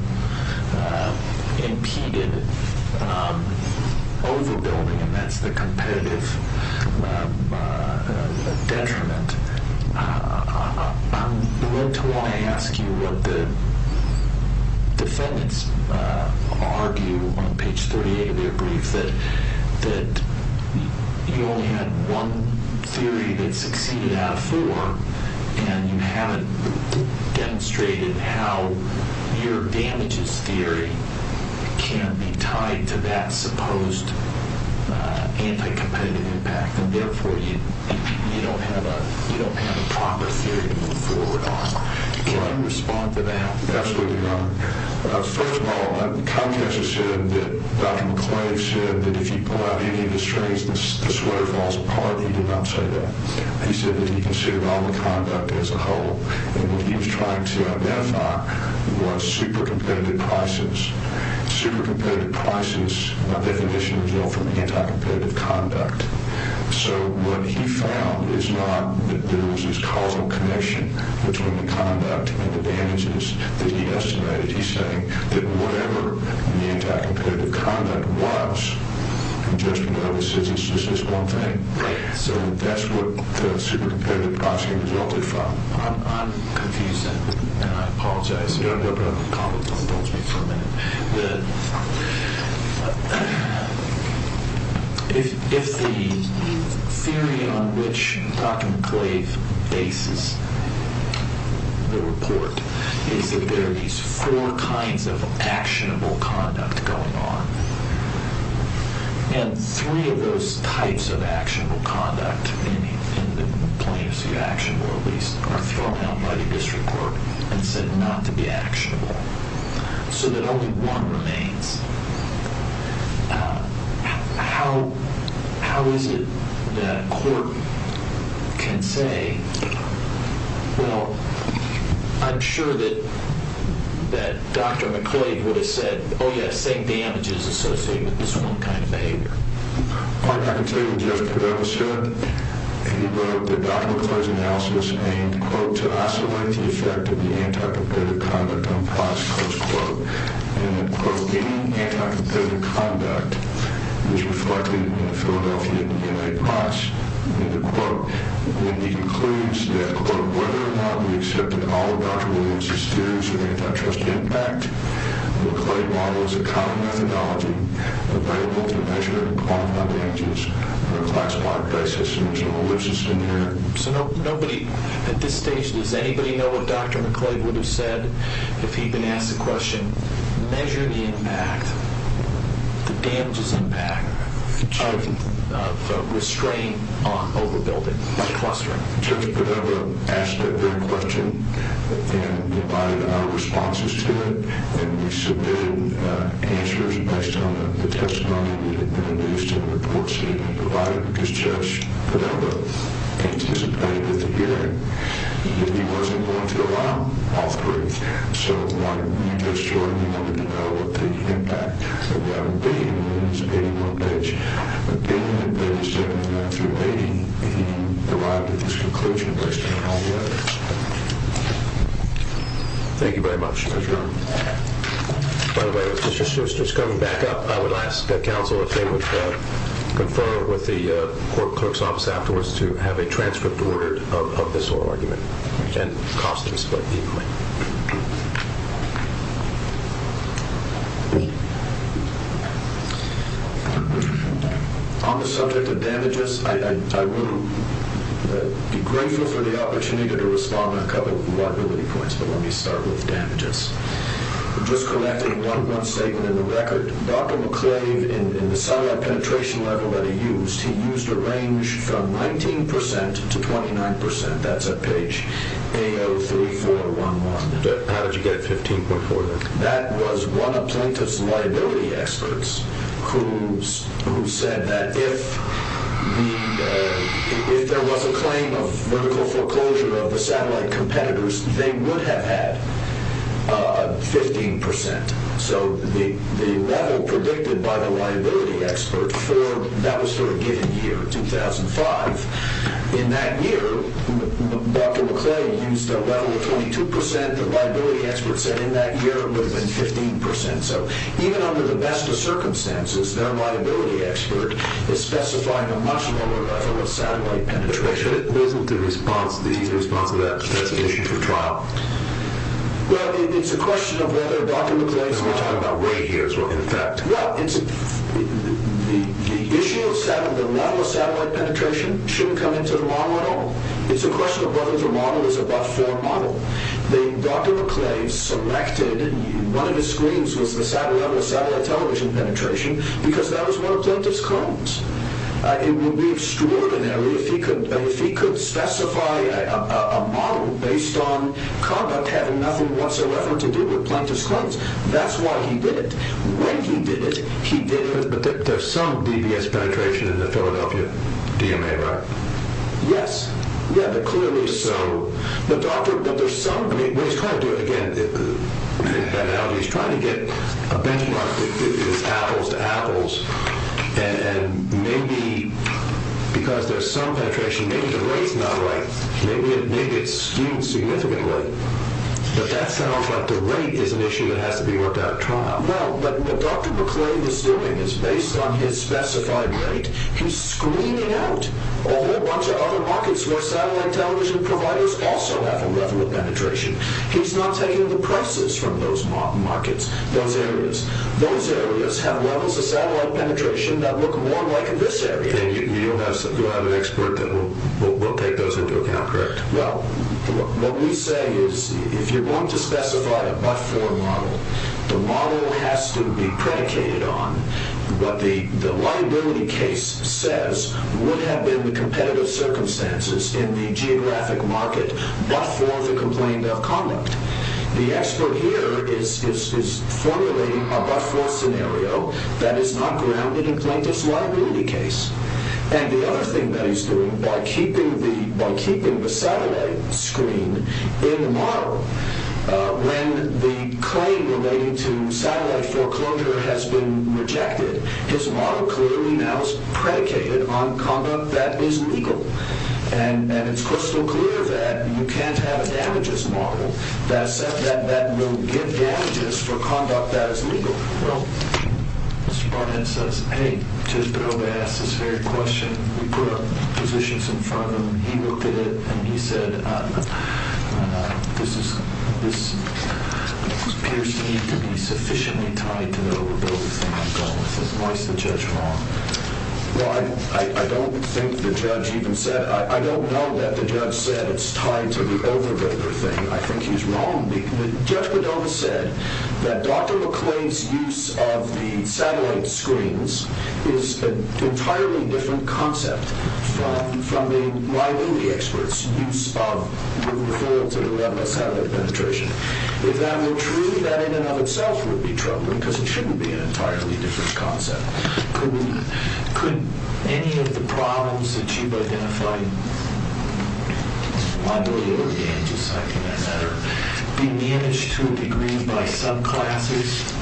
impeded overbuilding, and that's the competitive detriment, I'm going to want to ask you what the defendants argue on page 38 of their brief, that you only had one theory that succeeded out of four, and you haven't demonstrated how your damages theory can be tied to that supposed anti-competitive impact, and therefore you don't have a proper theory to move forward on. Can you respond to that? Absolutely not. First of all, Comcast has said that Dr. McClave said that if you pull out any of the strings, the sweater falls apart. He did not say that. He said that he considered all the conduct as a whole, and what he was trying to identify was super competitive prices. Super competitive prices, by definition, result from anti-competitive conduct, so what he found is not that there was this causal connection between the conduct and the damages that he estimated. He's saying that whatever the anti-competitive conduct was, you just know that it's just this one thing. So that's what the super competitive pricing resulted from. I'm confused, and I apologize. No problem. Comcast told me for a minute that if the theory on which Dr. McClave bases the report is that there are these four kinds of actionable conduct going on, and three of those types of actionable conduct in the plaintiff's view, actionable at least, are thrown out by the district court and said not to be actionable, so that only one remains. How is it that court can say, well, I'm sure that Dr. McClave would have said, oh, yeah, the same damage is associated with this one kind of behavior. I can tell you what Jeff Podella said. He wrote that Dr. McClave's analysis aimed, quote, to isolate the effect of the anti-competitive conduct on price, close quote, and that, quote, any anti-competitive conduct is reflected in the Philadelphia DNA price, end quote. And he concludes that, quote, whether or not we accepted all of Dr. Williams' theories of antitrust impact, McClave models a common methodology available to measure and quantify damages on a classified price assumption which is inherent. So nobody at this stage, does anybody know what Dr. McClave would have said if he'd been asked the question, measure the impact, the damages impact, Judge Podella asked that very question and provided our responses to it and we submitted answers based on the testimony that had been produced and the reports that had been provided because Judge Podella anticipated the hearing that he wasn't going to allow all three. So we wanted to make sure and we wanted to know what the impact would have been and we anticipated one page. But getting to page 79 through 80, he arrived at this conclusion based on all the evidence. Thank you very much. Thank you. By the way, just coming back up, I would ask that counsel, if they would confer with the court clerk's office afterwards, to have a transcript ordered of this oral argument. Costing split equally. On the subject of damages, I would be grateful for the opportunity to respond on a couple of liability points, but let me start with damages. Just collecting one statement in the record, Dr. McClave in the satellite penetration level that he used, he used a range from 19% to 29%. That's at page 803411. How did you get 15.4 there? That was one of Plaintiff's liability experts who said that if there was a claim of vertical foreclosure of the satellite competitors, they would have had 15%. So the level predicted by the liability expert, that was for a given year, 2005. In that year, Dr. McClave used a level of 22%. The liability expert said in that year it would have been 15%. So even under the best of circumstances, their liability expert is specifying a much lower level of satellite penetration. What is the response to that specification for trial? Well, it's a question of whether Dr. McClave... We're talking about way years, in fact. Well, the issue of the level of satellite penetration shouldn't come into the model at all. It's a question of whether the model is above-form model. Dr. McClave selected... One of his screens was the satellite level of satellite television penetration because that was one of Plaintiff's claims. It would be extraordinary if he could specify a model based on conduct having nothing whatsoever to do with Plaintiff's claims. That's why he did it. When he did it, he did it... But there's some DBS penetration in the Philadelphia DMA, right? Yes. Yeah, but clearly so. But there's some... When he's trying to do it again, he's trying to get a benchmark that is apples to apples. And maybe, because there's some penetration, maybe the rate's not right. Maybe it's skewed significantly. But that sounds like the rate is an issue that has to be worked out at trial. Well, but what Dr. McClave is doing is, based on his specified rate, he's screening out a whole bunch of other markets where satellite television providers also have a level of penetration. He's not taking the prices from those markets, those areas. Those areas have levels of satellite penetration that look more like this area. You have an expert that will take those into account, correct? Well, what we say is, if you're going to specify a but-for model, the model has to be predicated on what the liability case says would have been the competitive circumstances in the geographic market but for the complaint of conduct. The expert here is formulating a but-for scenario that is not grounded in plaintiff's liability case. And the other thing that he's doing, by keeping the satellite screen in the model, when the claim relating to satellite foreclosure has been rejected, his model clearly now is predicated on conduct that is legal. And it's crystal clear that you can't have a damages model that will give damages for conduct that is legal. Well, Mr. Barnett says, hey, just to be able to ask this very question, we put our positions in front of him. He looked at it, and he said, this appears to me to be sufficiently tied to the overbuilding thing. Why is the judge wrong? Well, I don't know that the judge said it's tied to the overbuilding thing. I think he's wrong. The judge would have said that Dr. McClain's use of the satellite screens is an entirely different concept from the liability experts' use of moving forward to the level of satellite penetration. If that were true, that in and of itself would be troubling because it shouldn't be an entirely different concept. Could any of the problems that you've identified, liability or damages, I think that's better, be managed to a degree by subclasses?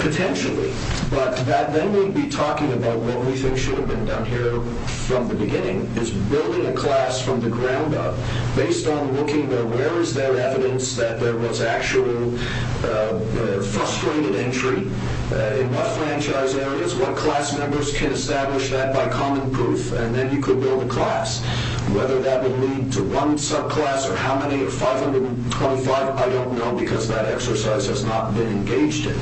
Potentially, but then we'd be talking about what we think should have been done here from the beginning, is building a class from the ground up based on looking at where is there evidence that there was actual frustrated injury in what franchise areas, what class members can establish that by common proof, and then you could build a class. Whether that would lead to one subclass or how many, 525, I don't know because that exercise has not been engaged in.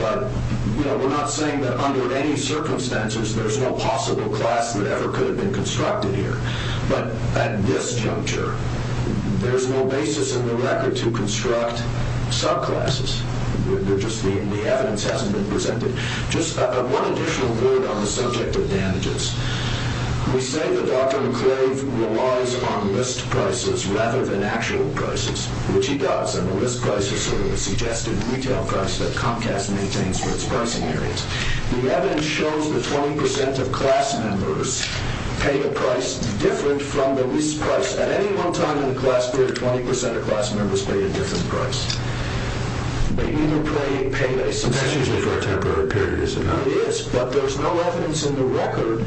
But we're not saying that under any circumstances there's no possible class that ever could have been constructed here. But at this juncture, there's no basis in the record to construct subclasses. The evidence hasn't been presented. Just one additional word on the subject of damages. We say that Dr. McCrave relies on list prices rather than actual prices, which he does, and the list price is sort of a suggested retail price that Comcast maintains for its pricing areas. The evidence shows that 20% of class members pay a price different from the list price. At any one time in the class period, 20% of class members pay a different price. But you don't pay a payday subscription. That's usually for a temporary period, isn't it? It is, but there's no evidence in the record.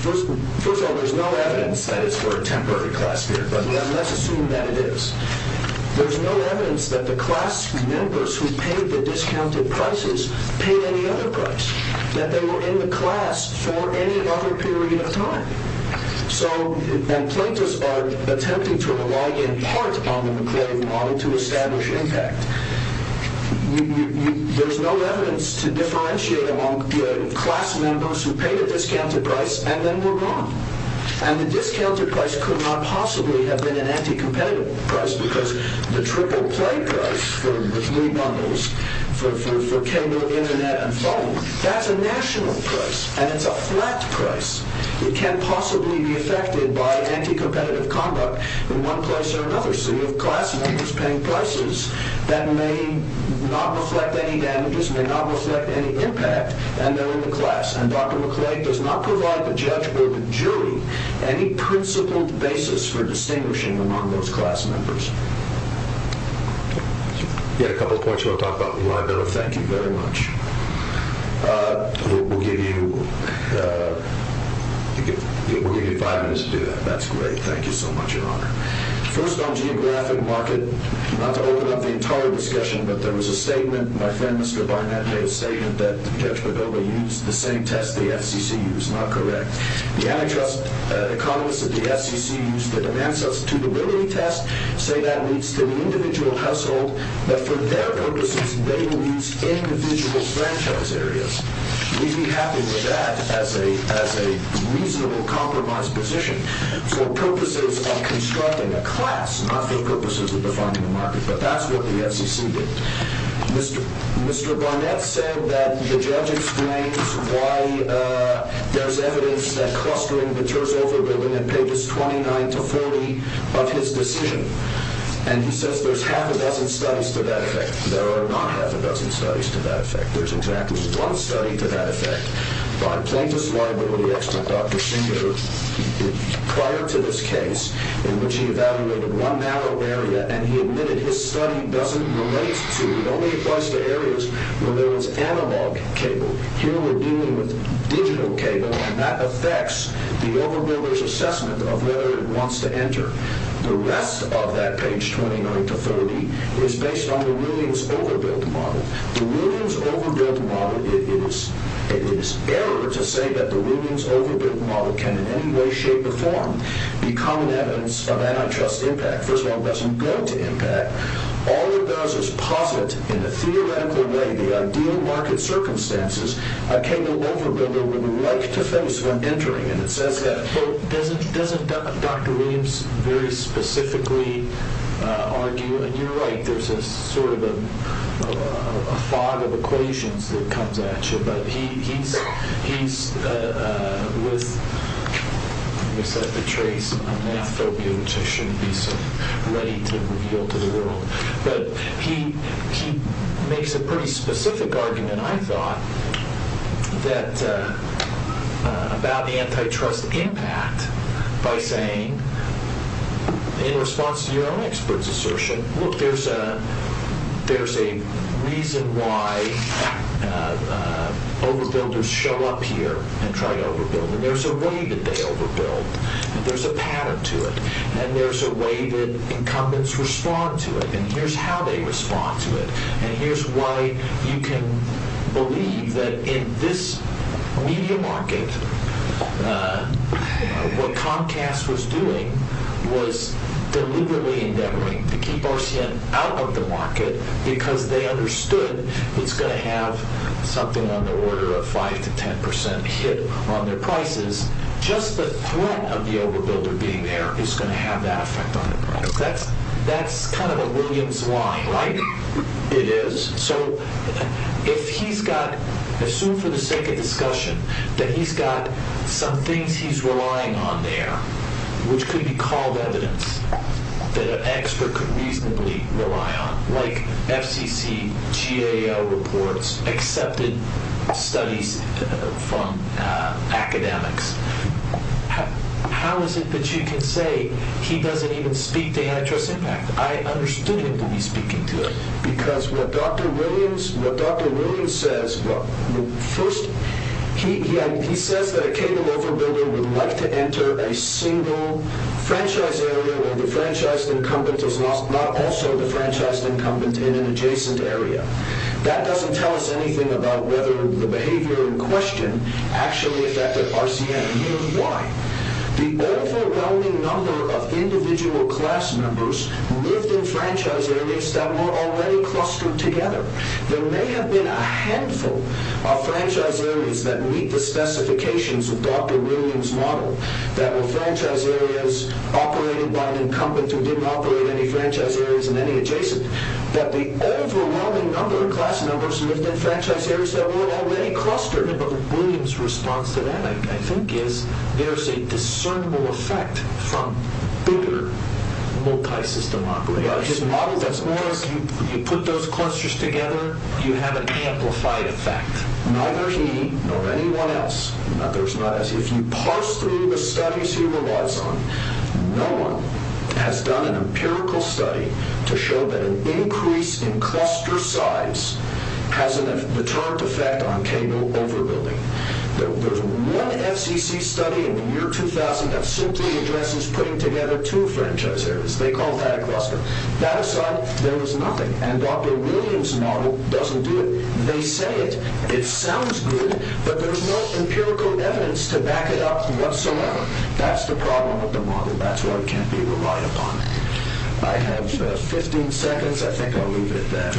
First of all, there's no evidence that it's for a temporary class period, but let's assume that it is. There's no evidence that the class members who paid the discounted prices paid any other price, that they were in the class for any other period of time. So when plaintiffs are attempting to rely in part on the McCrave model to establish impact, there's no evidence to differentiate among class members who paid a discounted price and then were gone. And the discounted price could not possibly have been an anti-competitive price because the triple-play price for Wii bundles, for cable, internet, and phone, that's a national price, and it's a flat price. It can't possibly be affected by anti-competitive conduct in one place or another. So you have class members paying prices that may not reflect any damages, may not reflect any impact, and they're in the class. And Dr. McCrave does not provide the judge or the jury any principled basis for distinguishing among those class members. You had a couple of points you want to talk about in the library. Thank you very much. We'll give you five minutes to do that. That's great. Thank you so much, Your Honor. First, on geographic market, not to open up the entire discussion, but there was a statement, my friend Mr. Barnett made a statement, that Judge Padova used the same test the FCC used. Not correct. The antitrust economists of the FCC used the Demand Substitutability Test say that leads to an individual household, but for their purposes they will use individual franchise areas. We'd be happy with that as a reasonable compromised position for purposes of constructing a class, not for purposes of defining a market. But that's what the FCC did. Mr. Barnett said that the judge explains why there's evidence that clustering matures over building at pages 29 to 40 of his decision. And he says there's half a dozen studies to that effect. There are not half a dozen studies to that effect. There's exactly one study to that effect. By plaintiff's liability expert Dr. Singer, prior to this case in which he evaluated one narrow area and he admitted his study doesn't relate to, it only applies to areas where there was analog cable. Here we're dealing with digital cable and that affects the overbuilder's assessment of whether it wants to enter. The rest of that page 29 to 30 is based on the Williams overbuild model. The Williams overbuild model, it is error to say that the Williams overbuild model can in any way, shape, or form be common evidence of antitrust impact. First of all, it doesn't go to impact. All it does is posit in a theoretical way the ideal market circumstances a cable overbuilder would like to face when entering. And it says that, quote, doesn't Dr. Williams very specifically argue, and you're right, there's a sort of a fog of equations that comes at you, but he's with, let me set the trace on math phobia, which I shouldn't be so ready to reveal to the world. But he makes a pretty specific argument, I thought, about the antitrust impact by saying, in response to your own expert's assertion, look, there's a reason why overbuilders show up here and try to overbuild. And there's a way that they overbuild. There's a pattern to it. And there's a way that incumbents respond to it. And here's how they respond to it. And here's why you can believe that in this media market, what Comcast was doing was deliberately endeavoring to keep RCN out of the market because they understood it's going to have something on the order of 5% to 10% hit on their prices. Just the threat of the overbuilder being there is going to have that effect on it. That's kind of a Williams line, right? It is. So if he's got, assume for the sake of discussion, that he's got some things he's relying on there, which could be called evidence that an expert could reasonably rely on, like FCC, GAO reports, accepted studies from academics, how is it that you can say he doesn't even speak to antitrust impact? I understood him to be speaking to it. Because what Dr. Williams says, well, first, he says that a cable overbuilder would like to enter a single franchise area where the franchised incumbent is not also the franchised incumbent in an adjacent area. That doesn't tell us anything about whether the behavior in question actually affected RCN. Here's why. The overwhelming number of individual class members lived in franchise areas that were already clustered together. There may have been a handful of franchise areas that meet the specifications of Dr. Williams' model that were franchise areas operated by an incumbent who didn't operate any franchise areas in any adjacent. But the overwhelming number of class members lived in franchise areas that were already clustered. Dr. Williams' response to that, I think, is there's a discernible effect from bigger multi-system operators. His model is that as long as you put those clusters together, you have an amplified effect. Neither he nor anyone else, if you parse through the studies he relies on, no one has done an empirical study to show that an increase in cluster size has a deterrent effect on cable overbuilding. There's one FCC study in the year 2000 that simply addresses putting together two franchise areas. They call that a cluster. That aside, there was nothing. And Dr. Williams' model doesn't do it. They say it. It sounds good. But there's no empirical evidence to back it up whatsoever. That's the problem with the model. That's why it can't be relied upon. I have 15 seconds. I think I'll move it then.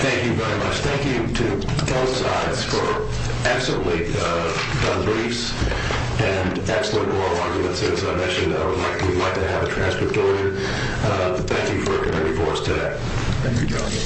Thank you very much. Thank you to both sides for excellent briefs and excellent oral arguments. As I mentioned, I would like to have a transcript of it. Thank you for coming before us today. Thank you, John.